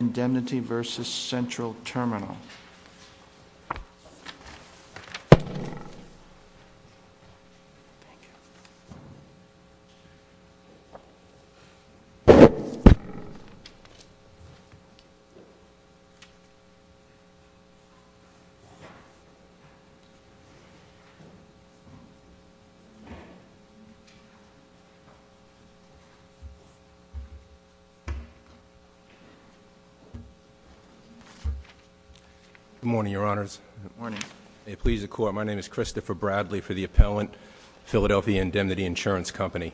Indemnity versus Central Terminal. Good morning, Your Honors. Good morning. May it please the Court. My name is Christopher Bradley for the appellant, Philadelphia Indemnity Insurance Company.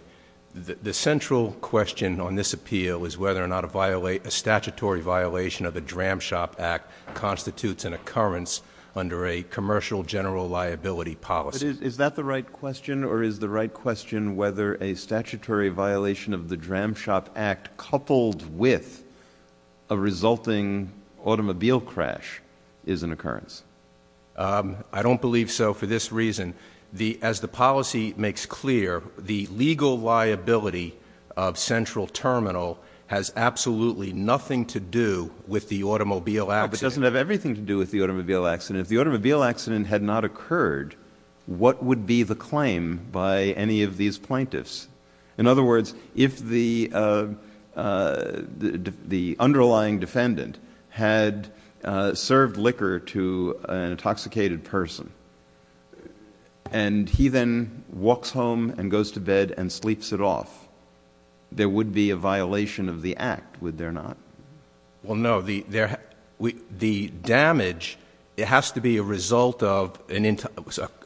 The central question on this appeal is whether or not a statutory violation of the Dram Shop Act constitutes an occurrence under a commercial general liability policy. Is that the right question? Or is the right question whether a statutory violation of the Dram Shop Act coupled with a resulting automobile crash is an occurrence? I don't believe so for this reason. As the policy makes clear, the legal liability of Central Terminal has absolutely nothing to do with the automobile accident. It doesn't have everything to do with the automobile accident. If the automobile accident had not occurred, what would be the claim by any of these plaintiffs? In other words, if the underlying defendant had served liquor to an intoxicated person and he then walks home and goes to bed and sleeps it off, there would be a violation of the act, would there not? Well no, the damage has to be a result of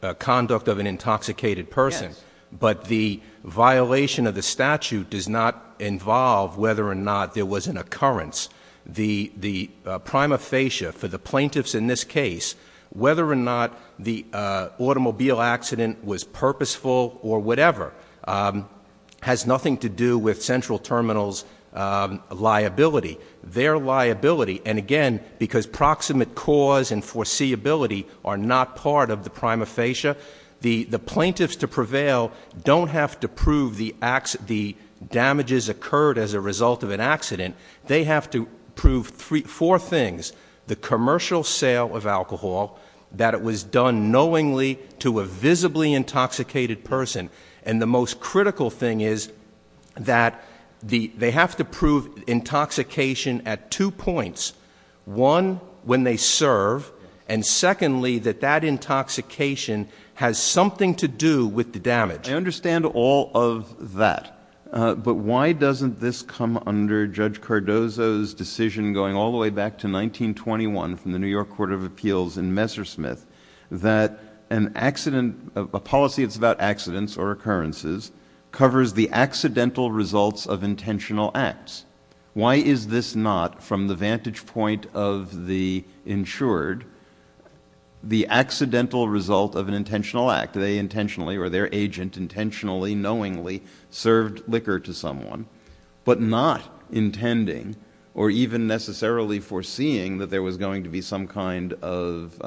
a conduct of an intoxicated person. Yes. But the violation of the statute does not involve whether or not there was an occurrence. The prima facie for the plaintiffs in this case, whether or not the automobile accident was purposeful or whatever, has nothing to do with Central Terminal's liability. Their liability, and again, because proximate cause and foreseeability are not part of the prima facie, the plaintiffs to prevail don't have to prove the damages occurred as a result of an accident. They have to prove four things. The commercial sale of alcohol, that it was done knowingly to a visibly intoxicated person, and the most critical thing is that they have to prove intoxication at two points. One, when they serve, and secondly, that that intoxication has something to do with the damage. I understand all of that. But why doesn't this come under Judge Cardozo's decision going all the way back to 1921 from the New York Court of Appeals in Messersmith that a policy that's about accidents or occurrences covers the accidental results of intentional acts? Why is this not, from the vantage point of the insured, the accidental result of an intentional act? They intentionally or their agent intentionally, knowingly served liquor to someone, but not intending or even necessarily foreseeing that there was going to be some kind of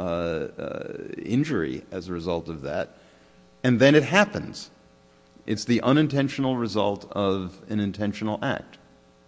injury as a result of that. And then it happens. It's the unintentional result of an intentional act.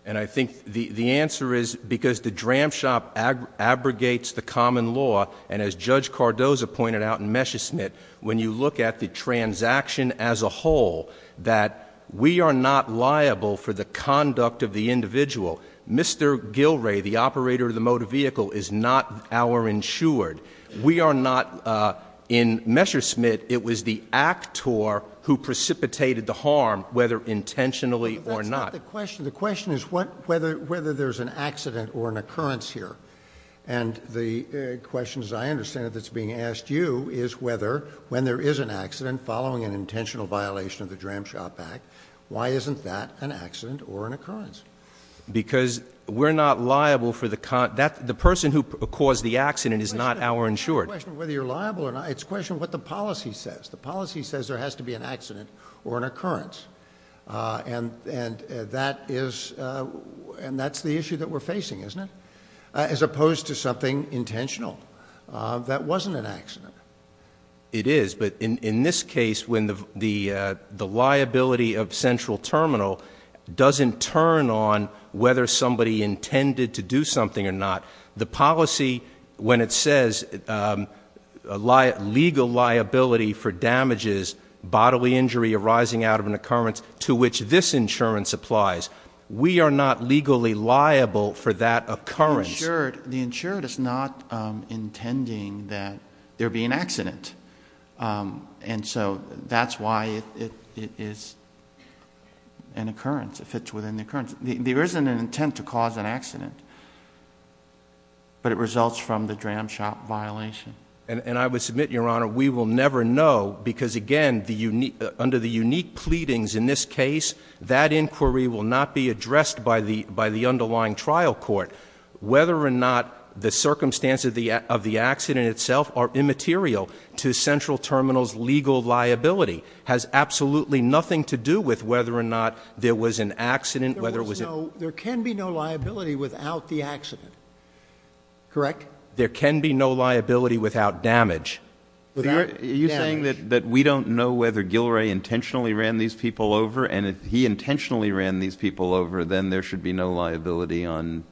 And I think the answer is because the dram shop abrogates the common law, and as Judge Cardozo pointed out in Messersmith, when you look at the transaction as a whole, that we are not liable for the conduct of the individual. Mr. Gilray, the operator of the motor vehicle, is not our insured. We are not. In Messersmith, it was the actor who precipitated the harm, whether intentionally or not. But that's not the question. The question is whether there's an accident or an occurrence here. And the question, as I understand it, that's being asked you is whether, when there is an accident following an intentional violation of the Dram Shop Act, why isn't that an accident or an occurrence? Because we're not liable for the conduct. The person who caused the accident is not our insured. It's not a question of whether you're liable or not. It's a question of what the policy says. The policy says there has to be an accident or an occurrence. And that's the issue that we're facing, isn't it? As opposed to something intentional. That wasn't an accident. It is. But in this case, when the liability of central terminal doesn't turn on whether somebody intended to do something or not, the policy, when it says legal liability for damages, bodily injury arising out of an occurrence, to which this insurance applies, we are not legally liable for that occurrence. The insured is not intending that there be an accident. And so that's why it is an occurrence, if it's within the occurrence. There isn't an intent to cause an accident, but it results from the Dram Shop violation. And I would submit, Your Honor, we will never know, because, again, under the unique pleadings in this case, that inquiry will not be addressed by the underlying trial court. Whether or not the circumstances of the accident itself are immaterial to central terminal's legal liability has absolutely nothing to do with whether or not there was an accident, whether it was an accident. There can be no liability without the accident, correct? There can be no liability without damage. Are you saying that we don't know whether Gilray intentionally ran these people over, and if he intentionally ran these people over, then there should be no liability on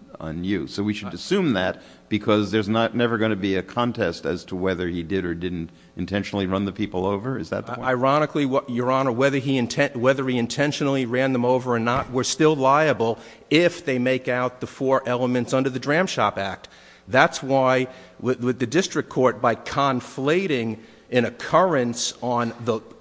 you? So we should assume that because there's never going to be a contest as to whether he did or didn't intentionally run the people over? Is that the point? Ironically, Your Honor, whether he intentionally ran them over or not, we're still liable if they make out the four elements under the Dram Shop Act. That's why with the district court, by conflating an occurrence on,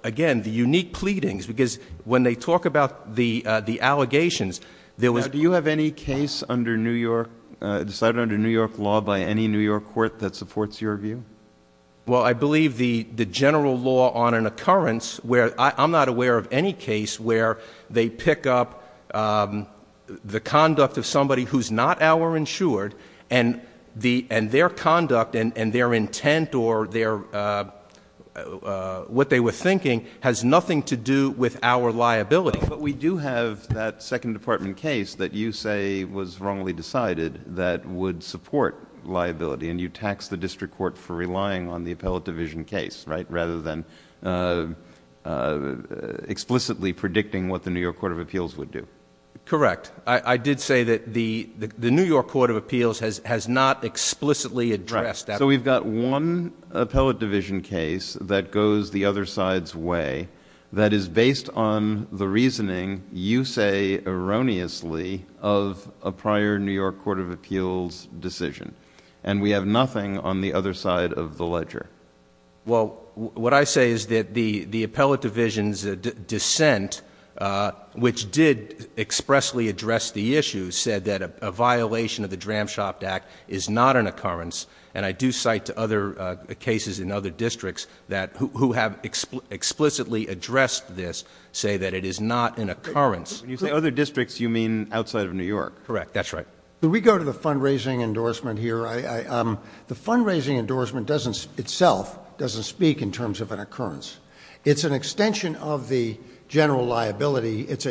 again, the unique pleadings, because when they talk about the allegations, there was- Now, do you have any case under New York, decided under New York law by any New York court that supports your view? Well, I believe the general law on an occurrence where I'm not aware of any case where they pick up the conduct of somebody who's not our insured, and their conduct and their intent or what they were thinking has nothing to do with our liability. But we do have that second department case that you say was wrongly decided that would support liability, and you taxed the district court for relying on the appellate division case, right, rather than explicitly predicting what the New York Court of Appeals would do. Correct. I did say that the New York Court of Appeals has not explicitly addressed that. Right. So we've got one appellate division case that goes the other side's way, that is based on the reasoning, you say erroneously, of a prior New York Court of Appeals decision. And we have nothing on the other side of the ledger. Well, what I say is that the appellate division's dissent, which did expressly address the issue, said that a violation of the Dram-Shopt Act is not an occurrence, and I do cite to other cases in other districts who have explicitly addressed this say that it is not an occurrence. When you say other districts, you mean outside of New York. Correct. That's right. We go to the fundraising endorsement here. The fundraising endorsement itself doesn't speak in terms of an occurrence. It's an extension of the general liability. It's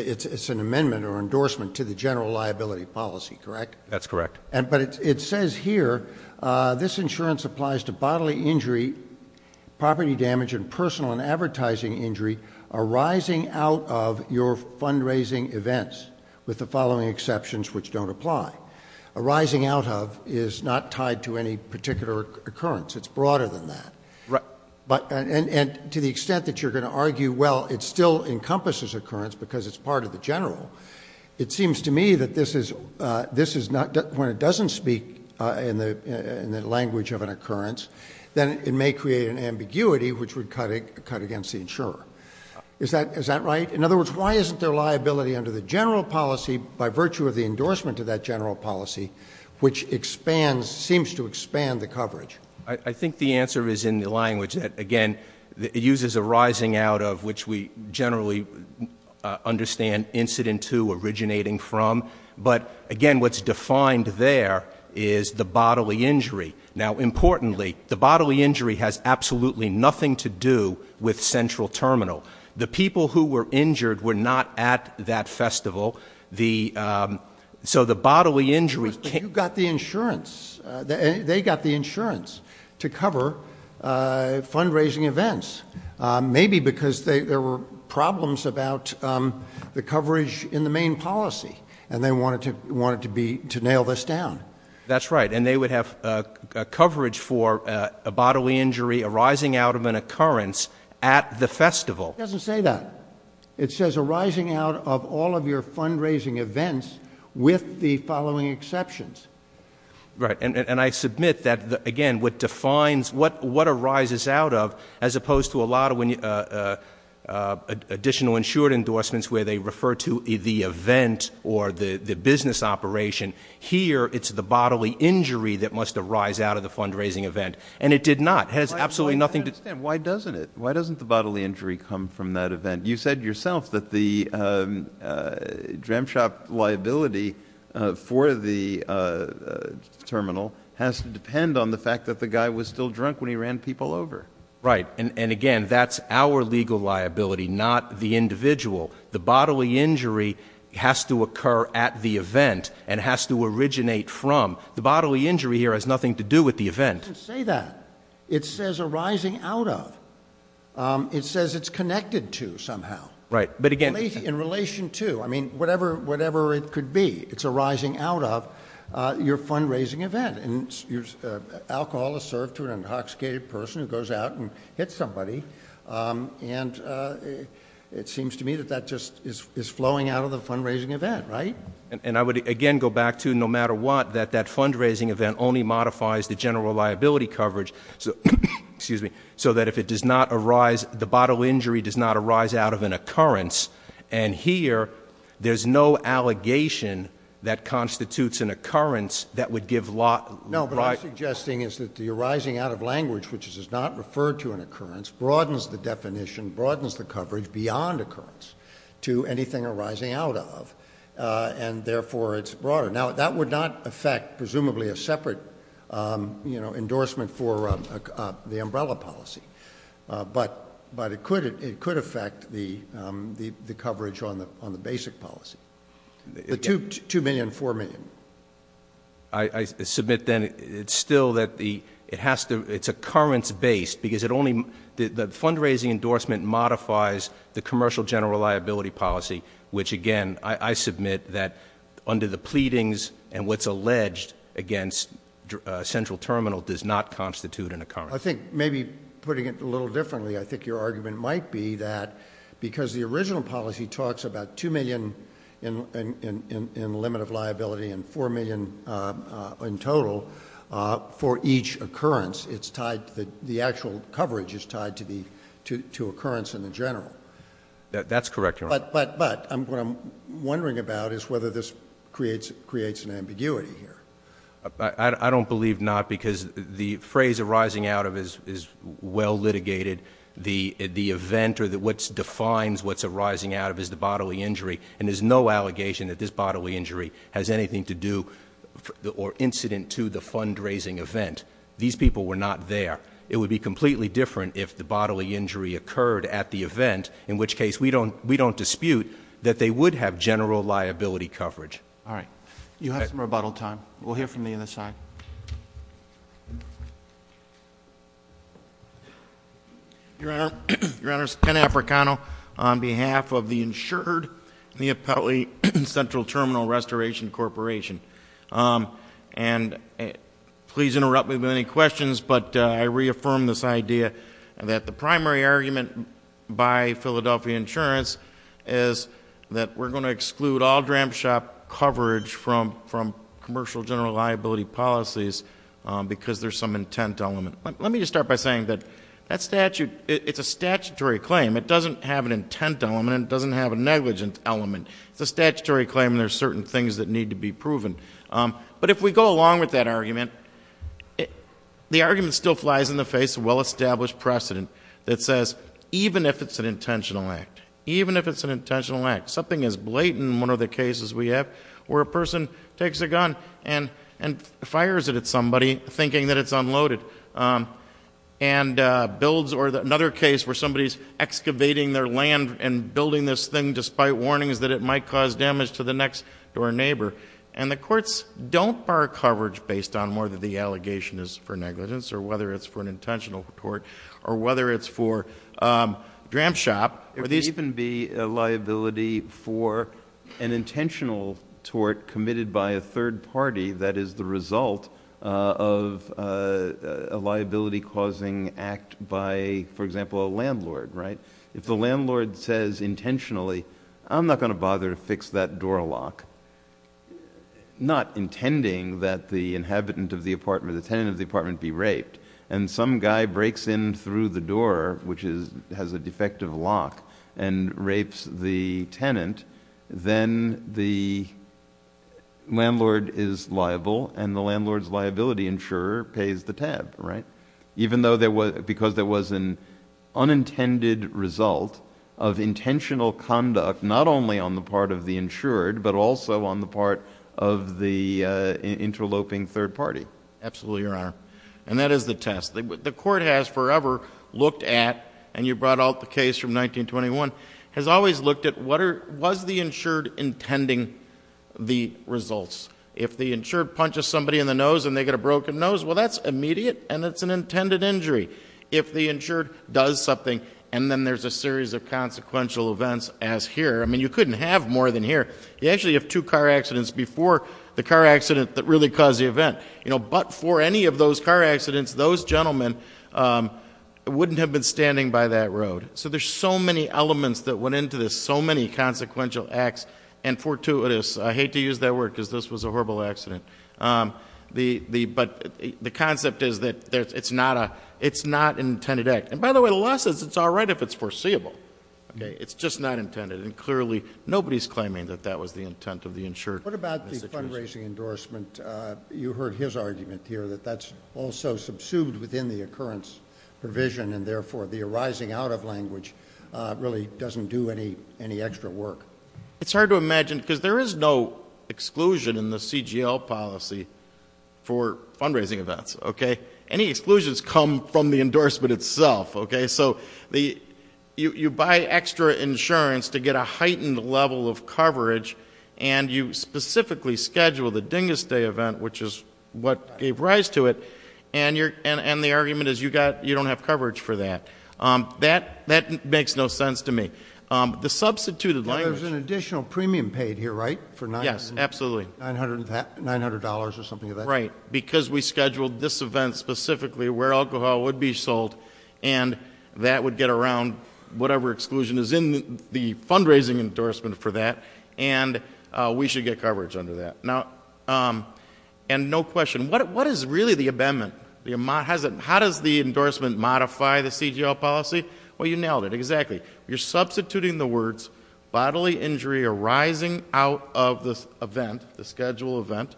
an amendment or endorsement to the general liability policy, correct? That's correct. But it says here this insurance applies to bodily injury, property damage, and personal and advertising injury arising out of your fundraising events, with the following exceptions which don't apply. Arising out of is not tied to any particular occurrence. It's broader than that. Right. And to the extent that you're going to argue, well, it still encompasses occurrence because it's part of the general, it seems to me that this is not, when it doesn't speak in the language of an occurrence, then it may create an ambiguity which would cut against the insurer. Is that right? In other words, why isn't there liability under the general policy by virtue of the endorsement of that general policy, which expands, seems to expand the coverage? I think the answer is in the language that, again, it uses arising out of which we generally understand incident to originating from. But, again, what's defined there is the bodily injury. Now, importantly, the bodily injury has absolutely nothing to do with Central Terminal. The people who were injured were not at that festival. So the bodily injury can't- But you got the insurance. They got the insurance to cover fundraising events, maybe because there were problems about the coverage in the main policy, and they wanted to nail this down. That's right. And they would have coverage for a bodily injury arising out of an occurrence at the festival. It doesn't say that. It says arising out of all of your fundraising events with the following exceptions. Right. And I submit that, again, what defines what arises out of, as opposed to a lot of additional insured endorsements where they refer to the event or the business operation, here it's the bodily injury that must arise out of the fundraising event. And it did not. It has absolutely nothing to- I don't understand. Why doesn't it? Why doesn't the bodily injury come from that event? You said yourself that the jam shop liability for the terminal has to depend on the fact that the guy was still drunk when he ran people over. Right. And, again, that's our legal liability, not the individual. The bodily injury has to occur at the event and has to originate from. The bodily injury here has nothing to do with the event. It doesn't say that. It says arising out of. It says it's connected to somehow. Right. But, again- In relation to. I mean, whatever it could be. It's arising out of your fundraising event. And alcohol is served to an intoxicated person who goes out and hits somebody. And it seems to me that that just is flowing out of the fundraising event, right? And I would, again, go back to no matter what, that that fundraising event only modifies the general liability coverage so that if it does not arise, the bodily injury does not arise out of an occurrence. And here there's no allegation that constitutes an occurrence that would give- No, but what I'm suggesting is that the arising out of language, which is not referred to an occurrence, broadens the definition, broadens the coverage beyond occurrence to anything arising out of. And, therefore, it's broader. Now, that would not affect, presumably, a separate endorsement for the umbrella policy. But it could affect the coverage on the basic policy. The $2 million, $4 million. I submit, then, it's still that it's occurrence-based because the fundraising endorsement modifies the commercial general liability policy, which, again, I submit that under the pleadings and what's alleged against Central Terminal does not constitute an occurrence. I think maybe putting it a little differently, I think your argument might be that because the original policy talks about $2 million in limit of liability and $4 million in total, for each occurrence, the actual coverage is tied to occurrence in the general. That's correct, Your Honor. But what I'm wondering about is whether this creates an ambiguity here. I don't believe not because the phrase arising out of is well litigated. The event or what defines what's arising out of is the bodily injury. And there's no allegation that this bodily injury has anything to do or incident to the fundraising event. These people were not there. It would be completely different if the bodily injury occurred at the event, in which case we don't dispute that they would have general liability coverage. All right. You have some rebuttal time. We'll hear from the other side. Your Honor, Ken Africano on behalf of the insured Neapolitan Central Terminal Restoration Corporation. And please interrupt me with any questions, but I reaffirm this idea that the primary argument by Philadelphia Insurance is that we're going to exclude all Dram Shop coverage from commercial general liability policies because there's some intent element. Let me just start by saying that that statute, it's a statutory claim. It doesn't have an intent element. It doesn't have a negligent element. It's a statutory claim and there's certain things that need to be proven. But if we go along with that argument, the argument still flies in the face of well-established precedent that says even if it's an intentional act, even if it's an intentional act, something as blatant in one of the cases we have where a person takes a gun and fires it at somebody thinking that it's unloaded and builds or another case where somebody's excavating their land and building this thing despite warnings that it might cause damage to the next door neighbor. And the courts don't bar coverage based on more that the allegation is for negligence or whether it's for an intentional tort or whether it's for Dram Shop. There can even be a liability for an intentional tort committed by a third party that is the result of a liability causing act by, for example, a landlord, right? If the landlord says intentionally, I'm not going to bother to fix that door lock, not intending that the inhabitant of the apartment, the tenant of the apartment be raped. And some guy breaks in through the door, which is, has a defective lock and rapes the tenant, then the landlord is liable and the landlord's liability insurer pays the tab, right? Even though there was, because there was an unintended result of intentional conduct, not only on the part of the insured, but also on the part of the interloping third party. Absolutely, Your Honor. And that is the test. The court has forever looked at, and you brought out the case from 1921, has always looked at what are, was the insured intending the results? If the insured punches somebody in the nose and they get a broken nose, well, that's immediate and it's an intended injury. If the insured does something and then there's a series of consequential events as here, I mean, you couldn't have more than here. You actually have two car accidents before the car accident that really caused the event. But for any of those car accidents, those gentlemen wouldn't have been standing by that road. So there's so many elements that went into this, so many consequential acts and fortuitous, I hate to use that word because this was a horrible accident. But the concept is that it's not an intended act. And by the way, the law says it's all right if it's foreseeable. It's just not intended. And clearly, nobody's claiming that that was the intent of the insured. What about the fundraising endorsement? You heard his argument here that that's also subsumed within the occurrence provision and therefore the arising out of language really doesn't do any extra work. It's hard to imagine because there is no exclusion in the CGL policy for fundraising events. Any exclusions come from the endorsement itself. You buy extra insurance to get a heightened level of coverage and you specifically schedule the Dingus Day event, which is what gave rise to it. And the argument is you don't have coverage for that. That makes no sense to me. The substituted language- There's an additional premium paid here, right? Yes, absolutely. $900 or something like that? Right, because we scheduled this event specifically where alcohol would be sold and that would get around whatever exclusion is in the fundraising endorsement for that. And we should get coverage under that. And no question, what is really the amendment? How does the endorsement modify the CGL policy? Well, you nailed it. Exactly. You're substituting the words bodily injury arising out of the event, the scheduled event,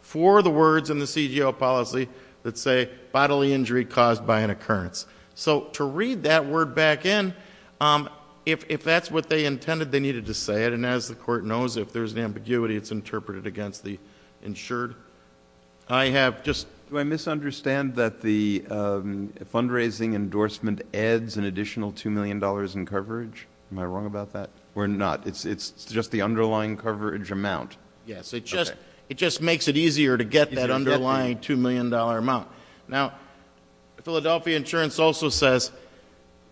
for the words in the CGL policy that say bodily injury caused by an occurrence. So to read that word back in, if that's what they intended, they needed to say it. And as the court knows, if there's an ambiguity, it's interpreted against the insured. I have just- Do I misunderstand that the fundraising endorsement adds an additional $2 million in coverage? Am I wrong about that? We're not. It's just the underlying coverage amount. Yes, it just makes it easier to get that underlying $2 million amount. Now, Philadelphia Insurance also says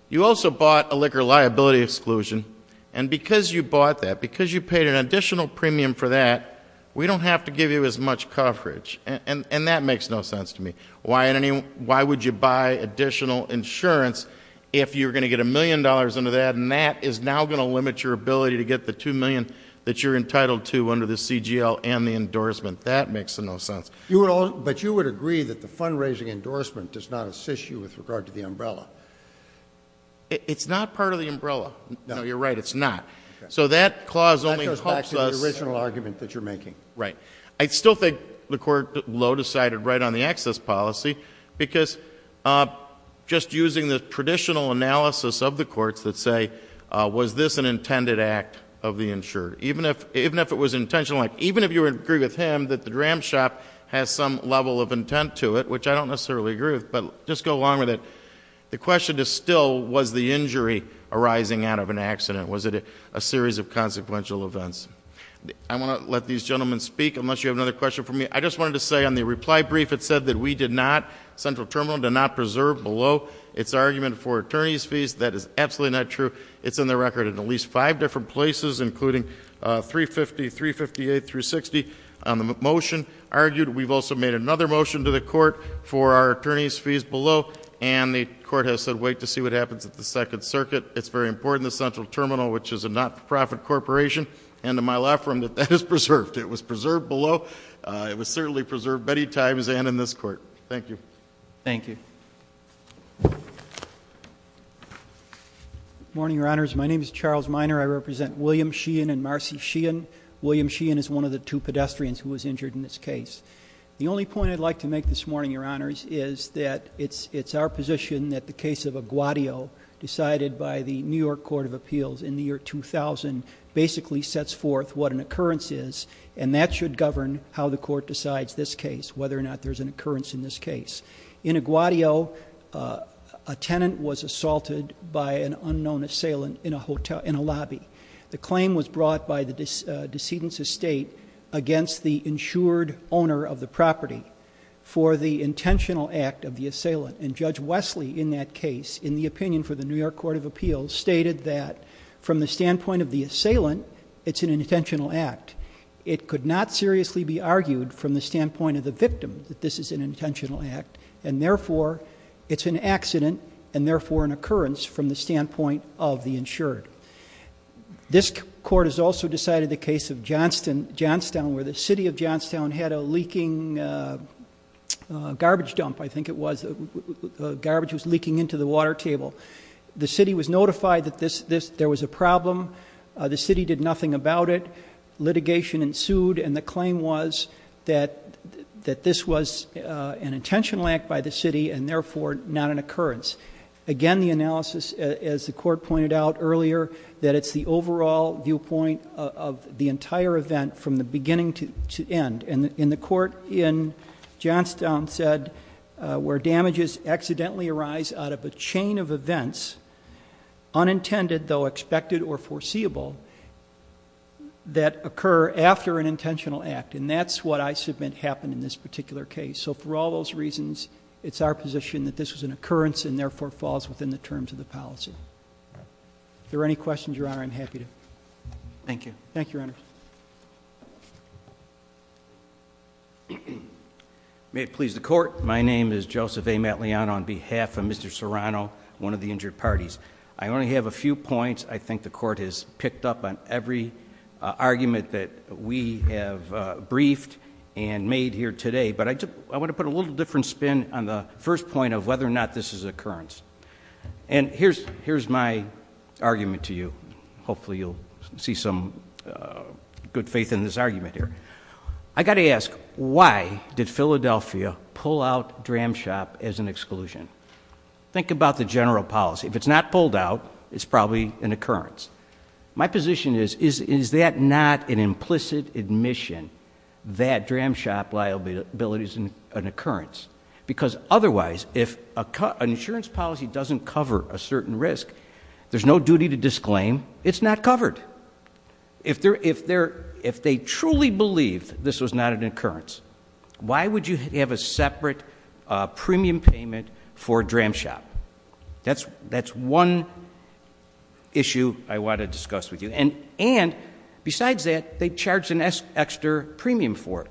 you also bought a liquor liability exclusion. And because you bought that, because you paid an additional premium for that, we don't have to give you as much coverage. And that makes no sense to me. Why would you buy additional insurance if you're going to get a million dollars under that? And that is now going to limit your ability to get the $2 million that you're entitled to under the CGL and the endorsement. That makes no sense. But you would agree that the fundraising endorsement does not assist you with regard to the umbrella? It's not part of the umbrella. No, you're right. It's not. So that clause only helps us- That goes back to the original argument that you're making. Right. I still think the court low decided right on the access policy because just using the traditional analysis of the courts that say, was this an intended act of the insured? Even if it was intentional, even if you agree with him that the dram shop has some level of intent to it, which I don't necessarily agree with, but just go along with it. The question is still, was the injury arising out of an accident? Was it a series of consequential events? I want to let these gentlemen speak unless you have another question for me. I just wanted to say on the reply brief, it said that we did not, Central Terminal did not preserve below its argument for attorney's fees. That is absolutely not true. It's in the record in at least five different places, including 350, 358 through 60 on the motion argued. We've also made another motion to the court for our attorney's fees below. And the court has said, wait to see what happens at the Second Circuit. It's very important, the Central Terminal, which is a not-for-profit corporation. And to my left from that, that is preserved. It was preserved below. It was certainly preserved many times and in this court. Thank you. Thank you. Good morning, Your Honors. My name is Charles Minor. I represent William Sheehan and Marcy Sheehan. William Sheehan is one of the two pedestrians who was injured in this case. The only point I'd like to make this morning, Your Honors, is that it's our position that the case of Aguadio, decided by the New York Court of Appeals in the year 2000, basically sets forth what an occurrence is. And that should govern how the court decides this case, whether or not there's an occurrence in this case. In Aguadio, a tenant was assaulted by an unknown assailant in a lobby. The claim was brought by the decedent's estate against the insured owner of the property for the intentional act of the assailant. And Judge Wesley, in that case, in the opinion for the New York Court of Appeals, stated that from the standpoint of the assailant, it's an intentional act. It could not seriously be argued from the standpoint of the victim that this is an intentional act. And therefore, it's an accident and therefore an occurrence from the standpoint of the insured. This court has also decided the case of Johnstown, where the city of Johnstown had a leaking garbage dump, I think it was. Garbage was leaking into the water table. The city was notified that there was a problem. The city did nothing about it. Litigation ensued and the claim was that this was an intentional act by the city and therefore not an occurrence. Again, the analysis, as the court pointed out earlier, that it's the overall viewpoint of the entire event from the beginning to end. And in the court in Johnstown said, where damages accidentally arise out of a chain of events, unintended, though expected or foreseeable, that occur after an intentional act. And that's what I submit happened in this particular case. So for all those reasons, it's our position that this was an occurrence and therefore falls within the terms of the policy. If there are any questions, Your Honor, I'm happy to. Thank you. May it please the court. My name is Joseph A Matliano on behalf of Mr. Serrano, one of the injured parties. I only have a few points. I think the court has picked up on every argument that we have briefed and made here today. But I want to put a little different spin on the first point of whether or not this is an occurrence. And here's my argument to you. Hopefully you'll see some good faith in this argument here. I got to ask, why did Philadelphia pull out Dram Shop as an exclusion? Think about the general policy. If it's not pulled out, it's probably an occurrence. My position is, is that not an implicit admission that Dram Shop liability is an occurrence? Because otherwise, if an insurance policy doesn't cover a certain risk, there's no duty to disclaim it's not covered. If they truly believed this was not an occurrence, why would you have a separate premium payment for Dram Shop? That's one issue I want to discuss with you. And besides that, they charged an extra premium for it.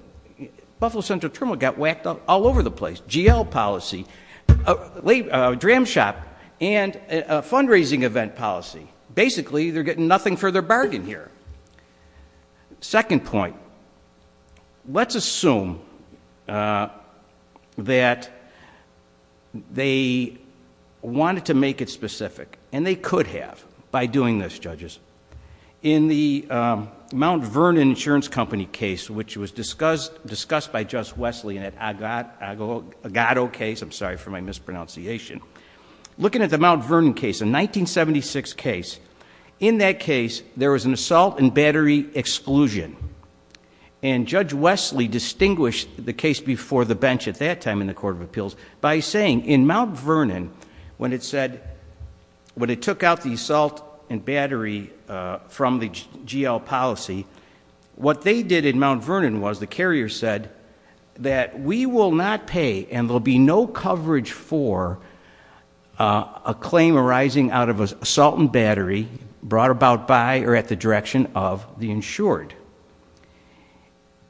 Buffalo Central Terminal got whacked up all over the place. GL policy, Dram Shop, and a fundraising event policy. Basically, they're getting nothing for their bargain here. Second point, let's assume that they wanted to make it specific, and they could have by doing this, judges. In the Mount Vernon Insurance Company case, which was discussed by Justice Wesley in that Agado case. I'm sorry for my mispronunciation. Looking at the Mount Vernon case, a 1976 case, in that case, there was an assault and battery exclusion. And Judge Wesley distinguished the case before the bench at that time in the Court of Appeals by saying, in Mount Vernon, when it said, when it took out the assault and battery from the GL policy, what they did in Mount Vernon was, the carrier said, that we will not pay, and there'll be no coverage for a claim arising out of assault and battery brought about by or at the direction of the insured.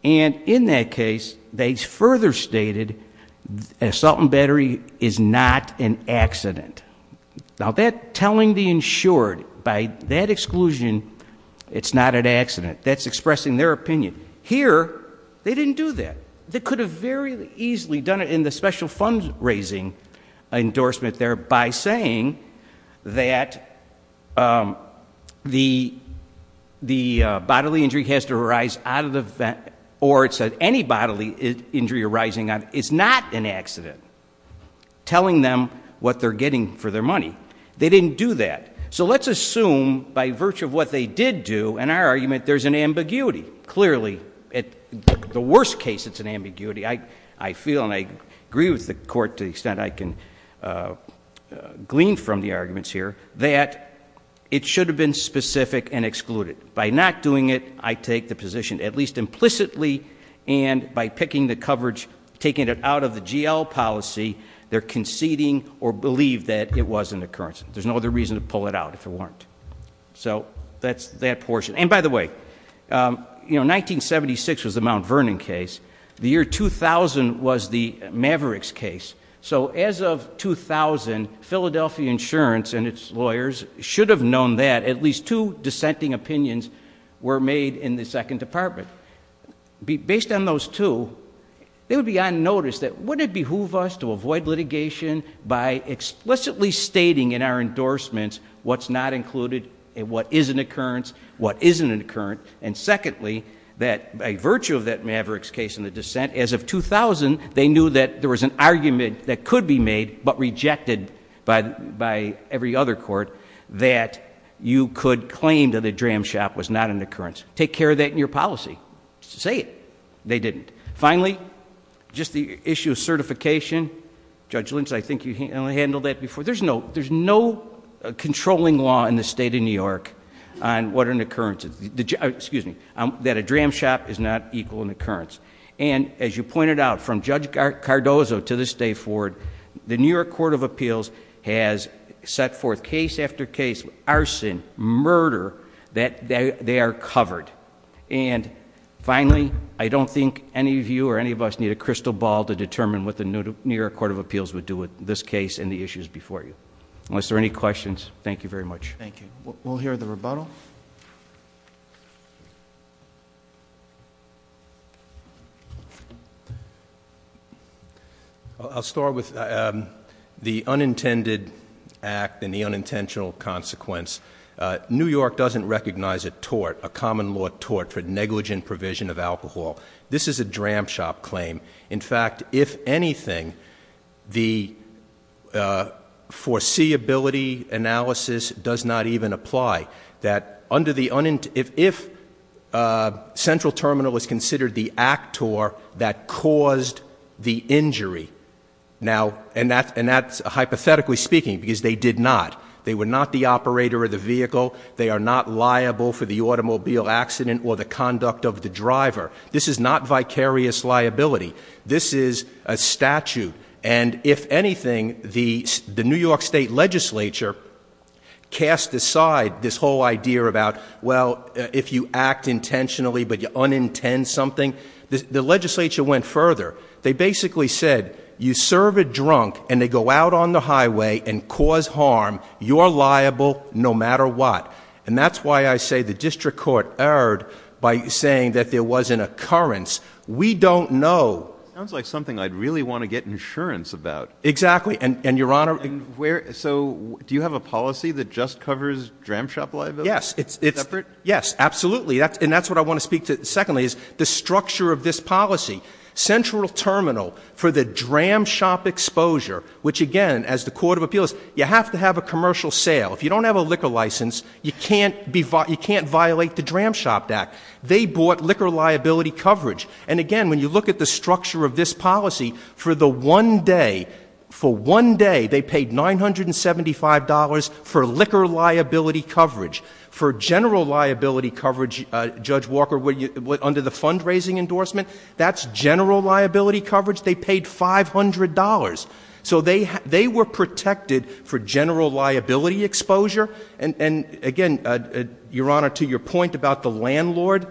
And in that case, they further stated assault and battery is not an accident. Now that telling the insured by that exclusion, it's not an accident. That's expressing their opinion. Here, they didn't do that. They could have very easily done it in the special fund raising endorsement there by saying that the bodily injury has to arise out of the, or it's any bodily injury arising out, it's not an accident. Telling them what they're getting for their money. They didn't do that. So let's assume, by virtue of what they did do, in our argument, there's an ambiguity. Clearly, at the worst case, it's an ambiguity. I feel, and I agree with the court to the extent I can glean from the arguments here, that it should have been specific and excluded. By not doing it, I take the position, at least implicitly, and by picking the coverage, taking it out of the GL policy, they're conceding or believe that it was an occurrence. There's no other reason to pull it out if it weren't. So that's that portion. And by the way, 1976 was the Mount Vernon case. The year 2000 was the Mavericks case. So as of 2000, Philadelphia Insurance and its lawyers should have known that. At least two dissenting opinions were made in the second department. Based on those two, they would be on notice that wouldn't it behoove us to avoid litigation by explicitly stating in our endorsements what's not included and what is an occurrence. What isn't an occurrence, and secondly, that by virtue of that Mavericks case in the dissent, as of 2000, they knew that there was an argument that could be made, but rejected by every other court, that you could claim that a dram shop was not an occurrence. Take care of that in your policy. Just say it. They didn't. Finally, just the issue of certification. Judge Lynch, I think you handled that before. There's no controlling law in the state of New York on what an occurrence is. Excuse me, that a dram shop is not equal in occurrence. And as you pointed out, from Judge Cardozo to this day forward, the New York Court of Appeals has set forth case after case, arson, murder, that they are covered. And finally, I don't think any of you or any of us need a crystal ball to determine what Unless there are any questions, thank you very much. Thank you. We'll hear the rebuttal. I'll start with the unintended act and the unintentional consequence. New York doesn't recognize a tort, a common law tort for negligent provision of alcohol. This is a dram shop claim. In fact, if anything, the foreseeability analysis does not even apply. That under the, if central terminal is considered the actor that caused the injury. Now, and that's hypothetically speaking, because they did not. They were not the operator of the vehicle. They are not liable for the automobile accident or the conduct of the driver. This is not vicarious liability. This is a statute. And if anything, the New York State Legislature cast aside this whole idea about, well, if you act intentionally but you unintend something, the legislature went further. They basically said, you serve a drunk and they go out on the highway and cause harm, you're liable no matter what. And that's why I say the district court erred by saying that there was an occurrence. We don't know. Sounds like something I'd really want to get insurance about. Exactly, and your honor. So, do you have a policy that just covers dram shop liability? Yes, it's- Separate? Yes, absolutely, and that's what I want to speak to, secondly, is the structure of this policy. Central terminal for the dram shop exposure, which again, as the court of appeals, you have to have a commercial sale. If you don't have a liquor license, you can't violate the Dram Shop Act. They bought liquor liability coverage. And again, when you look at the structure of this policy, for the one day, for one day, they paid $975 for liquor liability coverage. For general liability coverage, Judge Walker, under the fundraising endorsement, that's general liability coverage. They paid $500. So they were protected for general liability exposure. And again, your honor, to your point about the landlord,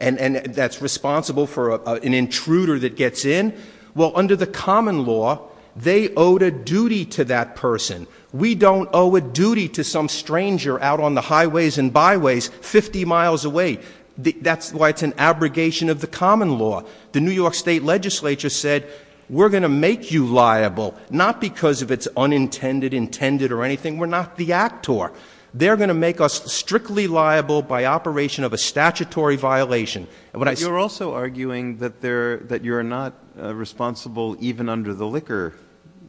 and that's responsible for an intruder that gets in, well, under the common law, they owed a duty to that person. We don't owe a duty to some stranger out on the highways and byways 50 miles away. That's why it's an abrogation of the common law. The New York State Legislature said, we're going to make you liable, not because of it's unintended, intended, or anything. We're not the actor. They're going to make us strictly liable by operation of a statutory violation. And when I- You're also arguing that you're not responsible even under the liquor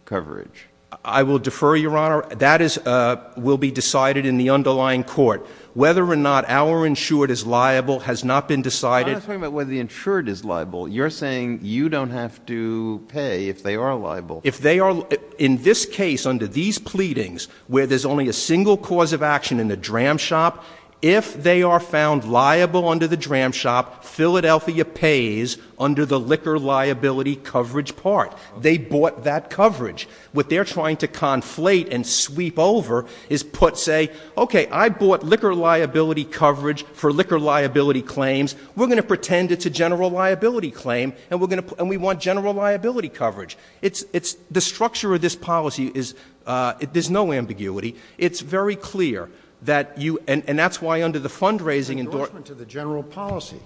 coverage. I will defer, your honor. That will be decided in the underlying court. Whether or not our insured is liable has not been decided. I'm not talking about whether the insured is liable. You're saying you don't have to pay if they are liable. If they are, in this case, under these pleadings, where there's only a single cause of action in the dram shop, if they are found liable under the dram shop, Philadelphia pays under the liquor liability coverage part. They bought that coverage. What they're trying to conflate and sweep over is put, say, okay, I bought liquor liability coverage for liquor liability claims. We're going to pretend it's a general liability claim, and we want general liability coverage. It's the structure of this policy is, there's no ambiguity. It's very clear that you, and that's why under the fundraising- Endorsement to the general policy.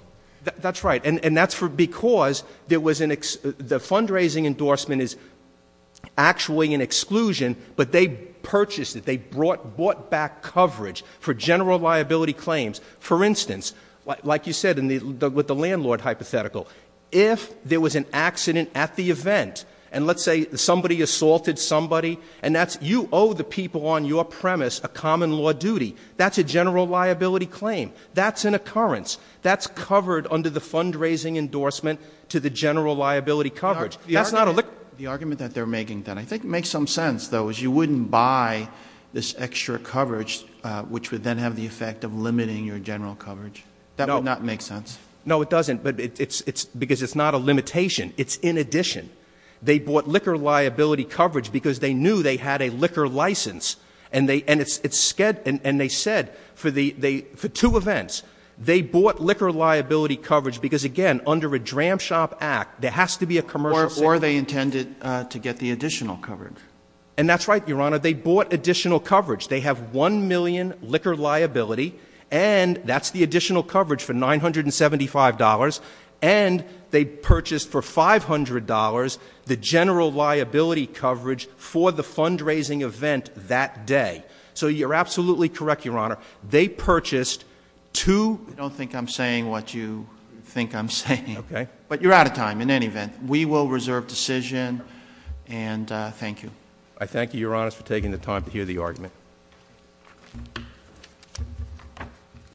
That's right, and that's because the fundraising endorsement is actually an exclusion, but they purchased it. They brought back coverage for general liability claims. For instance, like you said with the landlord hypothetical, if there was an accident at the event, and let's say somebody assaulted somebody, and you owe the people on your premise a common law duty. That's a general liability claim. That's an occurrence. That's covered under the fundraising endorsement to the general liability coverage. That's not a- The argument that they're making then, I think it makes some sense, though, is you wouldn't buy this extra coverage, which would then have the effect of limiting your general coverage. That would not make sense. No, it doesn't, because it's not a limitation. It's in addition. They bought liquor liability coverage because they knew they had a liquor license. And they said for two events, they bought liquor liability coverage because again, under a Dram Shop Act, there has to be a commercial- Or they intended to get the additional coverage. And that's right, Your Honor. They bought additional coverage. They have one million liquor liability, and that's the additional coverage for $975. And they purchased for $500 the general liability coverage for the fundraising event that day. So you're absolutely correct, Your Honor. They purchased two- I don't think I'm saying what you think I'm saying. Okay. But you're out of time in any event. We will reserve decision, and thank you. I thank you, Your Honor, for taking the time to hear the argument.